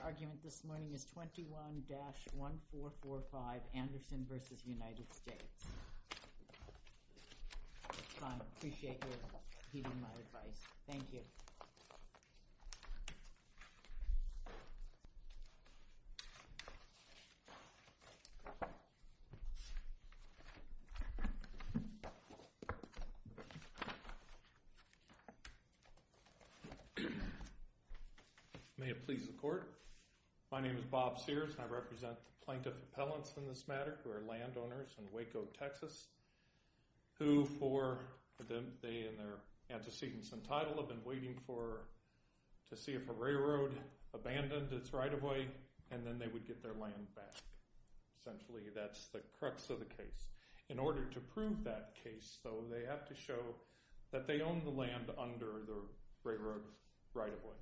Your argument this morning is 21-1445, Anderson v. United States. Fine. I appreciate your heeding my advice. Thank you. May it please the court. My name is Bob Sears and I represent the plaintiff appellants in this matter who are landowners in Waco, Texas, who for them, they and their antecedents entitled have been waiting for to see if a railroad abandoned its right of way and then they would get their land back. Essentially, that's the crux of the case. In order to prove that case, though, they have to show that they own the land under the railroad right of way.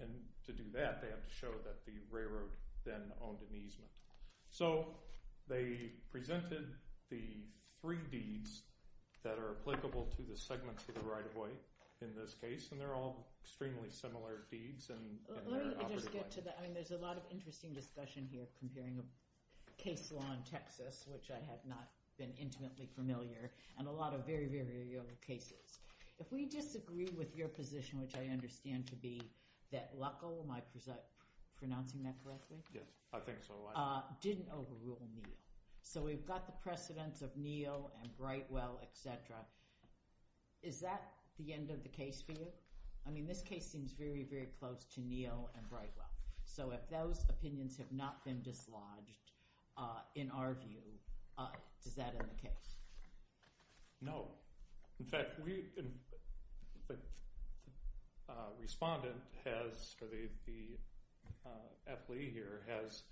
And to do that, they have to show that the railroad then owned an easement. So they presented the three deeds that are applicable to the segments of the right of way in this case, and they're all extremely similar deeds in their operative life. Let me just get to that. I mean, there's a lot of interesting discussion here comparing a case law in Texas, which I have not been intimately familiar, and a lot of very, very young cases. If we disagree with your position, which I understand to be that Waco, am I pronouncing that correctly? Yes, I think so. Didn't overrule Neal. So we've got the precedence of Neal and Brightwell, et cetera. Is that the end of the case for you? I mean, this case seems very, very close to Neal and Brightwell. So if those opinions have not been dislodged, in our view, is that in the case? No. In fact, the respondent has, or the athlete here, has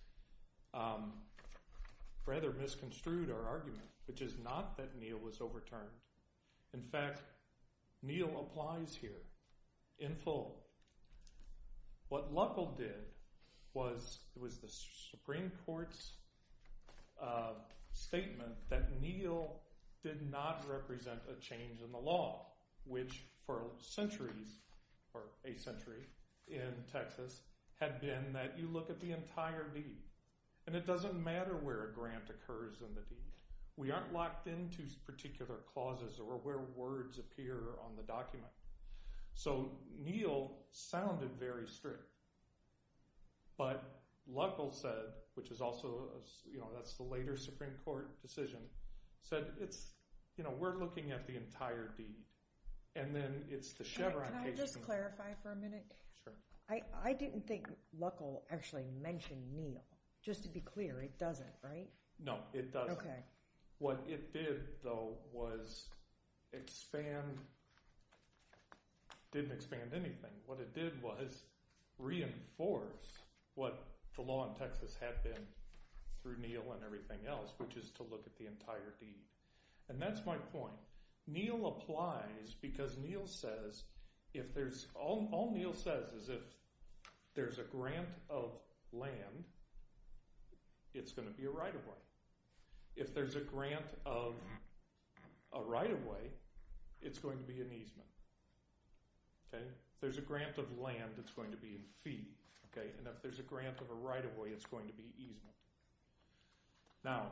rather misconstrued our argument, which is not that Neal was overturned. In fact, Neal applies here in full. What Luckl did was the Supreme Court's statement that Neal did not represent a change in the law, which for centuries, or a century in Texas, had been that you look at the entire deed, and it doesn't matter where a grant occurs in the deed. We aren't locked into particular clauses or where words appear on the document. So Neal sounded very strict. But Luckl said, which is also, you know, that's the later Supreme Court decision, said it's, you know, we're looking at the entire deed. And then it's the Chevron case. Can I just clarify for a minute? Sure. I didn't think Luckl actually mentioned Neal. Just to be clear, it doesn't, right? No, it doesn't. OK. What it did, though, was expand, didn't expand anything. What it did was reinforce what the law in Texas had been through Neal and everything else, which is to look at the entire deed. And that's my point. Neal applies because Neal says, if there's, all Neal says is if there's a grant of land, it's going to be a right of way. If there's a grant of a right of way, it's going to be an easement. OK? If there's a grant of land, it's going to be a fee. OK? And if there's a grant of a right of way, it's going to be easement. Now,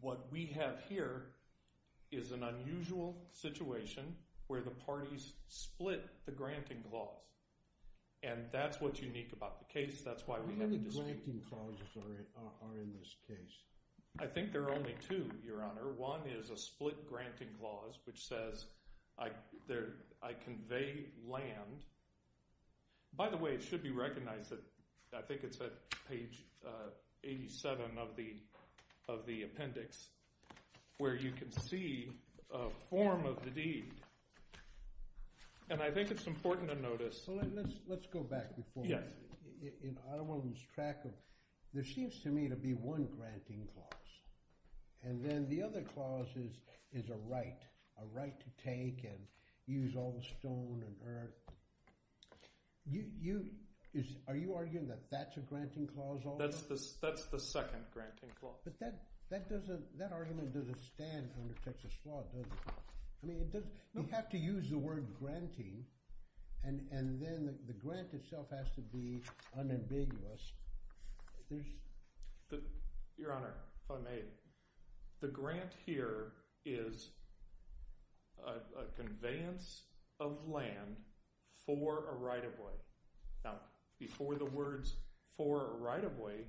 what we have here is an unusual situation where the parties split the granting clause. And that's what's unique about the case. That's why we have a dispute. How many granting clauses are in this case? I think there are only two, Your Honor. One is a split granting clause, which says, I convey land. By the way, it should be recognized that I think it's at page 87 of the appendix, where you can see a form of the deed. And I think it's important to notice. So let's go back before. Yes. I don't want to lose track of, there seems to me to be one granting clause. And then the other clause is a right, a right to take and use all the stone and earth. Are you arguing that that's a granting clause also? That's the second granting clause. But that argument doesn't stand under Texas law, does it? I mean, you have to use the word granting. And then the grant itself has to be unambiguous. Your Honor, if I may, the grant here is a conveyance of land for a right-of-way. Now, before the words for a right-of-way,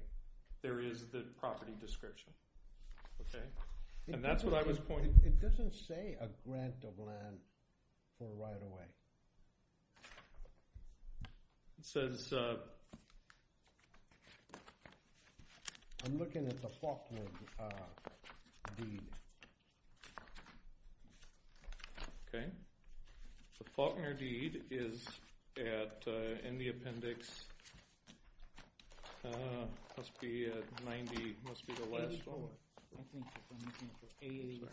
there is the property description. And that's what I was pointing to. It doesn't say a grant of land for a right-of-way. It says, I'm looking at the Faulkner deed. OK. The Faulkner deed is in the appendix, must be at 90, must be the last one. I'm looking for 84.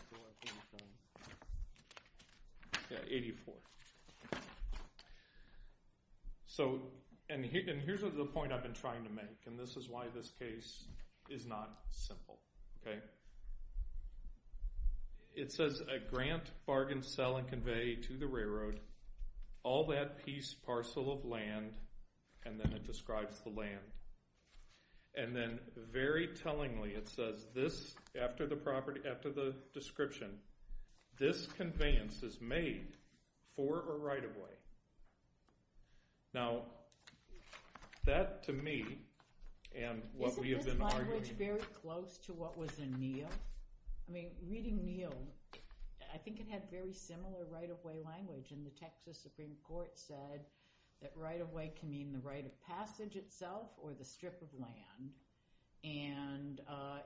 Yeah, 84. So, and here's the point I've been trying to make. And this is why this case is not simple, OK? It says a grant, bargain, sell, and convey to the railroad, all that piece, parcel of land. And then it describes the land. And then, very tellingly, it says this, after the property, after the description, this conveyance is made for a right-of-way. Now, that, to me, and what we have been arguing. Isn't this language very close to what was in Neal? I mean, reading Neal, I think it had very similar right-of-way language. And the Texas Supreme Court said that right-of-way can mean the right of passage itself, or the strip of land. And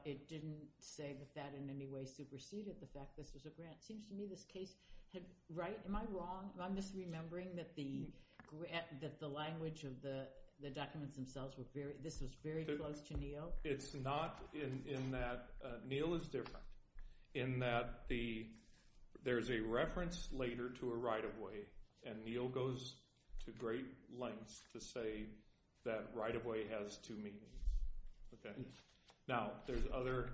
it didn't say that that in any way superseded the fact this was a grant. It seems to me this case had, right? Am I wrong? Am I misremembering that the language of the documents themselves were very, this was very close to Neal? It's not in that, Neal is different. In that the, there's a reference later to a right-of-way. And Neal goes to great lengths to say that right-of-way has two meanings. Okay? Now, there's other,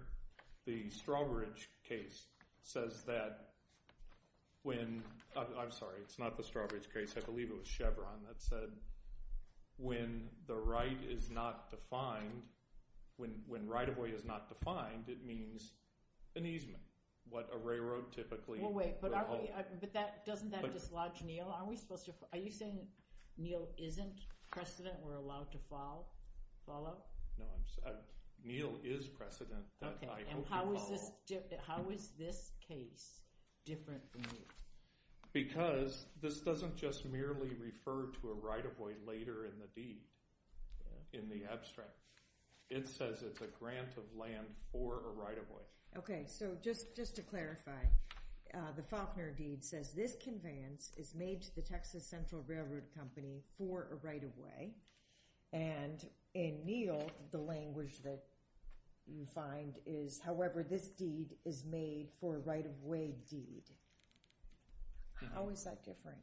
the Strawbridge case says that when, I'm sorry, it's not the Strawbridge case, I believe it was Chevron that said, when the right is not defined, when right-of-way is not defined, it means an easement. What a railroad typically, But doesn't that dislodge Neal? Are you saying Neal isn't precedent we're allowed to follow? No, Neal is precedent. Okay, and how is this case different from Neal? Because this doesn't just merely refer to a right-of-way later in the deed, in the abstract. It says it's a grant of land for a right-of-way. Okay, so just to clarify. The Faulkner deed says this conveyance is made to the Texas Central Railroad Company for a right-of-way. And in Neal, the language that you find is, however this deed is made for a right-of-way deed. How is that different?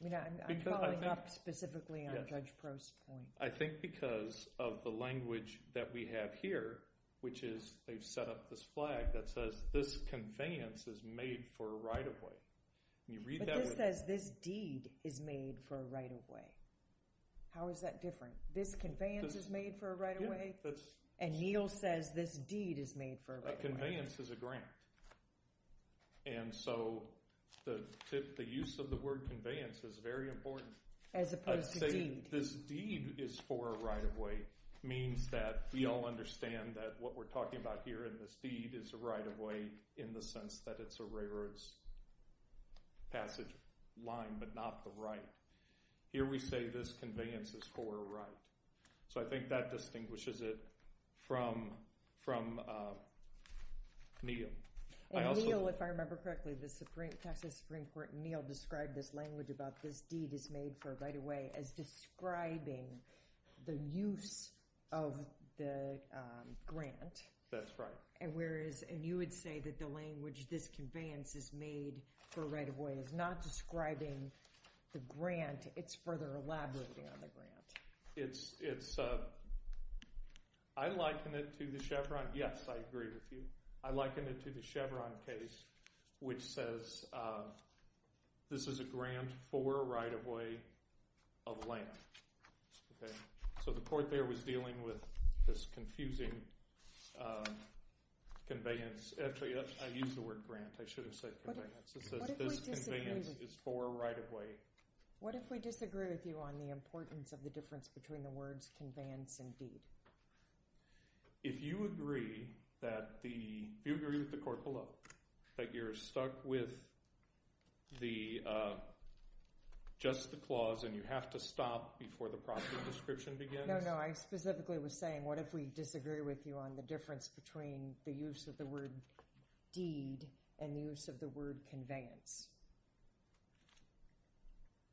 I mean, I'm following up specifically on Judge Prost's point. I think because of the language that we have here, which is they've set up this flag that says this conveyance is made for a right-of-way. But this says this deed is made for a right-of-way. How is that different? This conveyance is made for a right-of-way? And Neal says this deed is made for a right-of-way. That conveyance is a grant. And so the use of the word conveyance is very important. As opposed to deed. This deed is for a right-of-way means that we all understand that what we're talking about here in this deed is a right-of-way in the sense that it's a railroad's passage line, but not the right. Here we say this conveyance is for a right. So I think that distinguishes it from Neal. And Neal, if I remember correctly, the Texas Supreme Court, Neal described this language about this deed is made for a right-of-way as describing the use of the grant. That's right. And you would say that the language this conveyance is made for a right-of-way is not describing the grant. It's further elaborating on the grant. I liken it to the Chevron. Yes, I agree with you. I liken it to the Chevron case, which says this is a grant for a right-of-way of length. So the court there was dealing with this confusing conveyance. Actually, I used the word grant. I should have said conveyance. It says this conveyance is for a right-of-way. What if we disagree with you on the importance of the difference between the words conveyance and deed? If you agree with the court below that you're stuck with just the clause and you have to stop before the property description begins? No, no. I specifically was saying what if we disagree with you on the difference between the use of the word deed and the use of the word conveyance?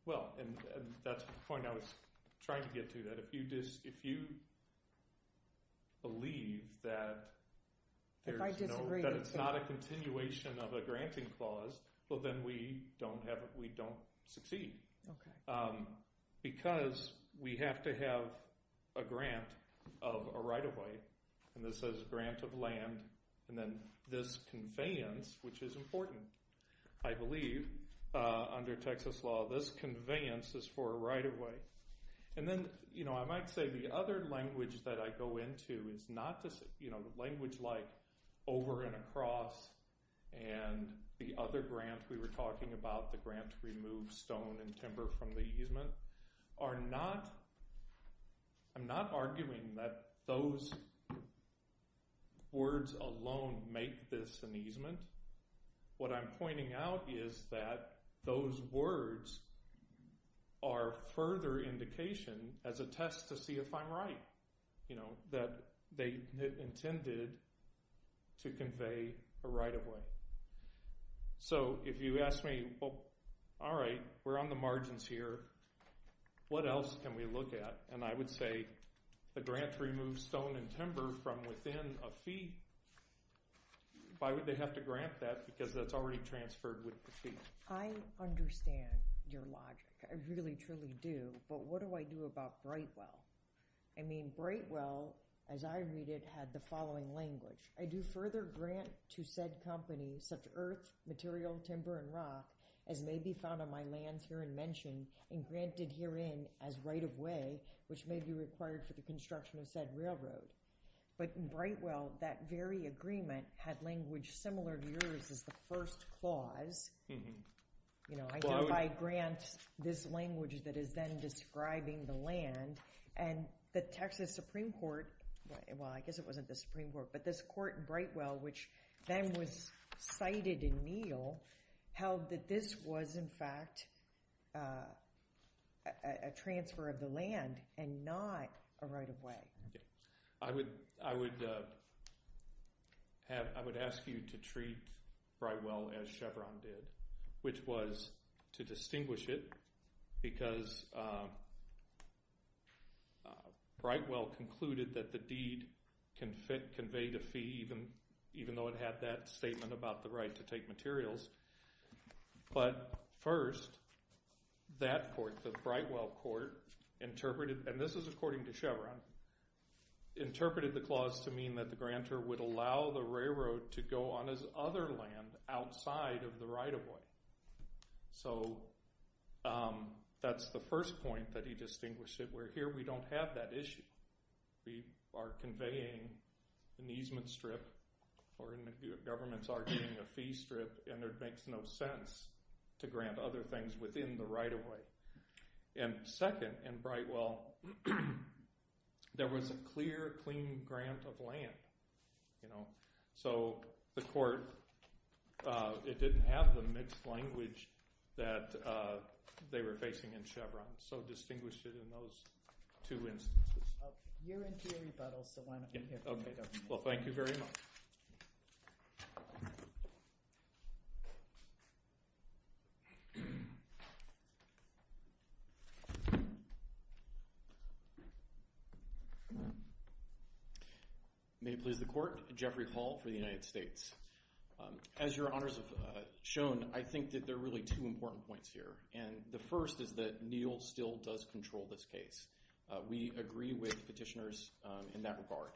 Well, and that's the point I was trying to get to. If you believe that it's not a continuation of a granting clause, well, then we don't succeed. Because we have to have a grant of a right-of-way, and this says grant of land, and then this conveyance, which is important. I believe under Texas law this conveyance is for a right-of-way. And then I might say the other language that I go into is not the language like over and across and the other grant we were talking about, the grant to remove stone and timber from the easement, are not – I'm not arguing that those words alone make this an easement. What I'm pointing out is that those words are further indication as a test to see if I'm right, you know, that they intended to convey a right-of-way. So if you ask me, well, all right, we're on the margins here. What else can we look at? And I would say the grant to remove stone and timber from within a fee, why would they have to grant that? Because that's already transferred with the fee. I understand your logic. I really, truly do. But what do I do about Brightwell? I mean, Brightwell, as I read it, had the following language. I do further grant to said company such earth, material, timber, and rock as may be found on my lands here in mention and granted herein as right-of-way, which may be required for the construction of said railroad. But in Brightwell, that very agreement had language similar to yours as the first clause. You know, I grant this language that is then describing the land. And the Texas Supreme Court, well, I guess it wasn't the Supreme Court, but this court in Brightwell, which then was cited in Neal, held that this was in fact a transfer of the land and not a right-of-way. I would ask you to treat Brightwell as Chevron did, which was to distinguish it because Brightwell concluded that the deed conveyed a fee even though it had that statement about the right to take materials. But first, that court, the Brightwell court, interpreted, and this is according to Chevron, interpreted the clause to mean that the grantor would allow the railroad to go on his other land outside of the right-of-way. So that's the first point that he distinguished it. Where here we don't have that issue. We are conveying an easement strip, or the government's arguing a fee strip, and it makes no sense to grant other things within the right-of-way. Second, in Brightwell, there was a clear, clean grant of land. So the court, it didn't have the mixed language that they were facing in Chevron, so distinguished it in those two instances. You're in jury battle, so why don't we hear from you. Well, thank you very much. May it please the court, Jeffrey Hall for the United States. As your honors have shown, I think that there are really two important points here, and the first is that Neal still does control this case. We agree with petitioners in that regard.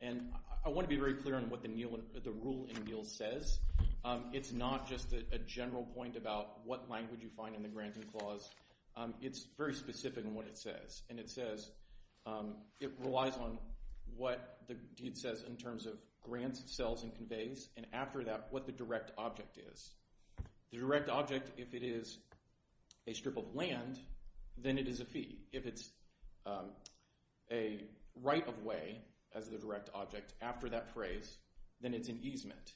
And I want to be very clear on what the rule in Neal says. It's not just a general point about what language you find in the granting clause. It's very specific in what it says, and it says it relies on what the deed says in terms of grants, sales, and conveys, and after that, what the direct object is. The direct object, if it is a strip of land, then it is a fee. If it's a right of way as the direct object after that phrase, then it's an easement.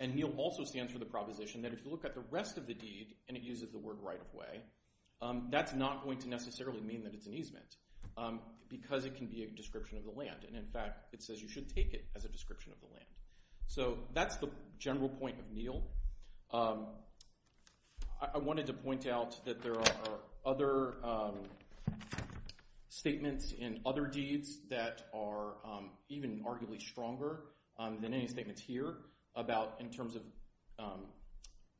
And Neal also stands for the proposition that if you look at the rest of the deed and it uses the word right of way, that's not going to necessarily mean that it's an easement because it can be a description of the land. And in fact, it says you should take it as a description of the land. So that's the general point of Neal. I wanted to point out that there are other statements in other deeds that are even arguably stronger than any statements here about in terms of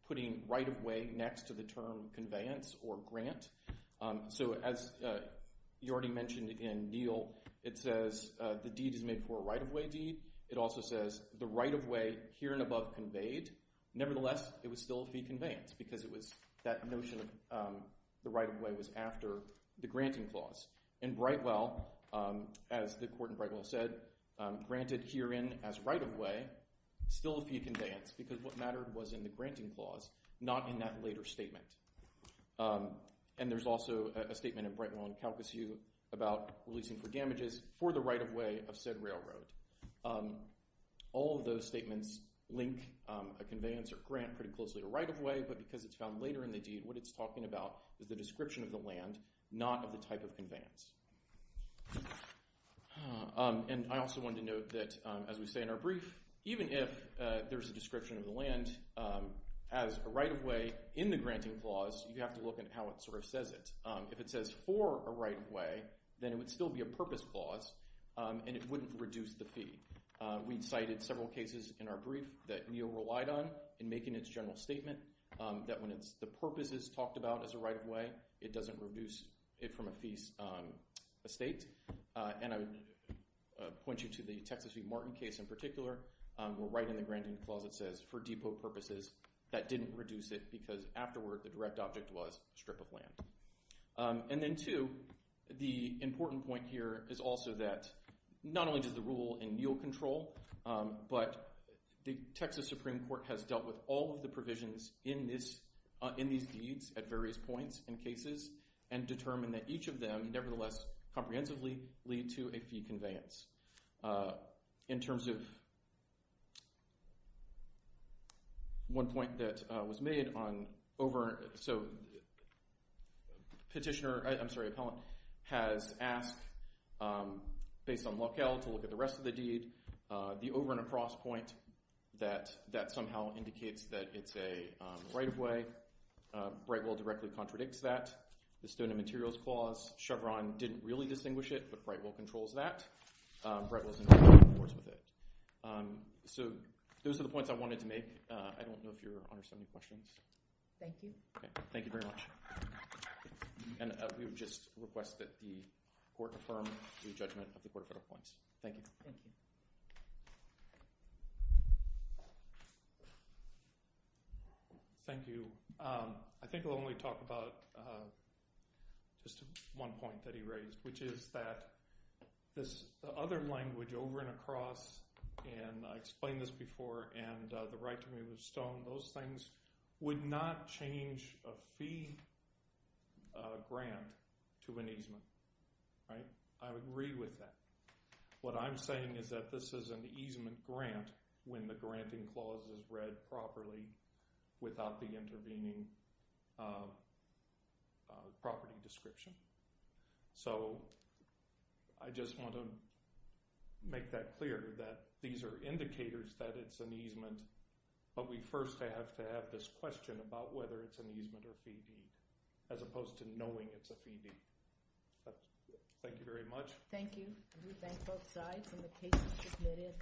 putting right of way next to the term conveyance or grant. So as you already mentioned in Neal, it says the deed is made for a right of way deed. It also says the right of way here and above conveyed. Nevertheless, it was still a fee conveyance because it was that notion of the right of way was after the granting clause. And Brightwell, as the court in Brightwell said, granted herein as right of way still a fee conveyance because what mattered was in the granting clause, not in that later statement. And there's also a statement in Brightwell and Calcasieu about releasing for damages for the right of way of said railroad. All of those statements link a conveyance or grant pretty closely to right of way, but because it's found later in the deed, what it's talking about is the description of the land, not of the type of conveyance. And I also wanted to note that, as we say in our brief, even if there's a description of the land as a right of way in the granting clause, you have to look at how it sort of says it. If it says for a right of way, then it would still be a purpose clause and it wouldn't reduce the fee. We cited several cases in our brief that NEO relied on in making its general statement that when the purpose is talked about as a right of way, it doesn't reduce it from a fee estate. And I would point you to the Texas v. Martin case in particular where right in the granting clause it says for depot purposes, that didn't reduce it because afterward the direct object was strip of land. And then two, the important point here is also that not only does the rule in NEO control, but the Texas Supreme Court has dealt with all of the provisions in these deeds at various points in cases and determined that each of them nevertheless comprehensively lead to a fee conveyance. In terms of one point that was made on over – so petitioner – I'm sorry, appellant has asked based on locale to look at the rest of the deed. The over and across point that somehow indicates that it's a right of way, Brightwell directly contradicts that. The stone and materials clause, Chevron didn't really distinguish it, but Brightwell controls that. Brightwell is in agreement, of course, with it. So those are the points I wanted to make. I don't know if Your Honor has any questions. Thank you. Thank you very much. And we would just request that the court affirm the judgment of the court of federal points. Thank you. Thank you. I think I'll only talk about just one point that he raised, which is that this other language, over and across, and I explained this before, and the right to move the stone, those things would not change a fee grant to an easement. I would agree with that. What I'm saying is that this is an easement grant when the granting clause is read properly without the intervening property description. So I just want to make that clear, that these are indicators that it's an easement, but we first have to have this question about whether it's an easement or a fee deed, as opposed to knowing it's a fee deed. Thank you very much. Thank you. We thank both sides. And the case is submitted.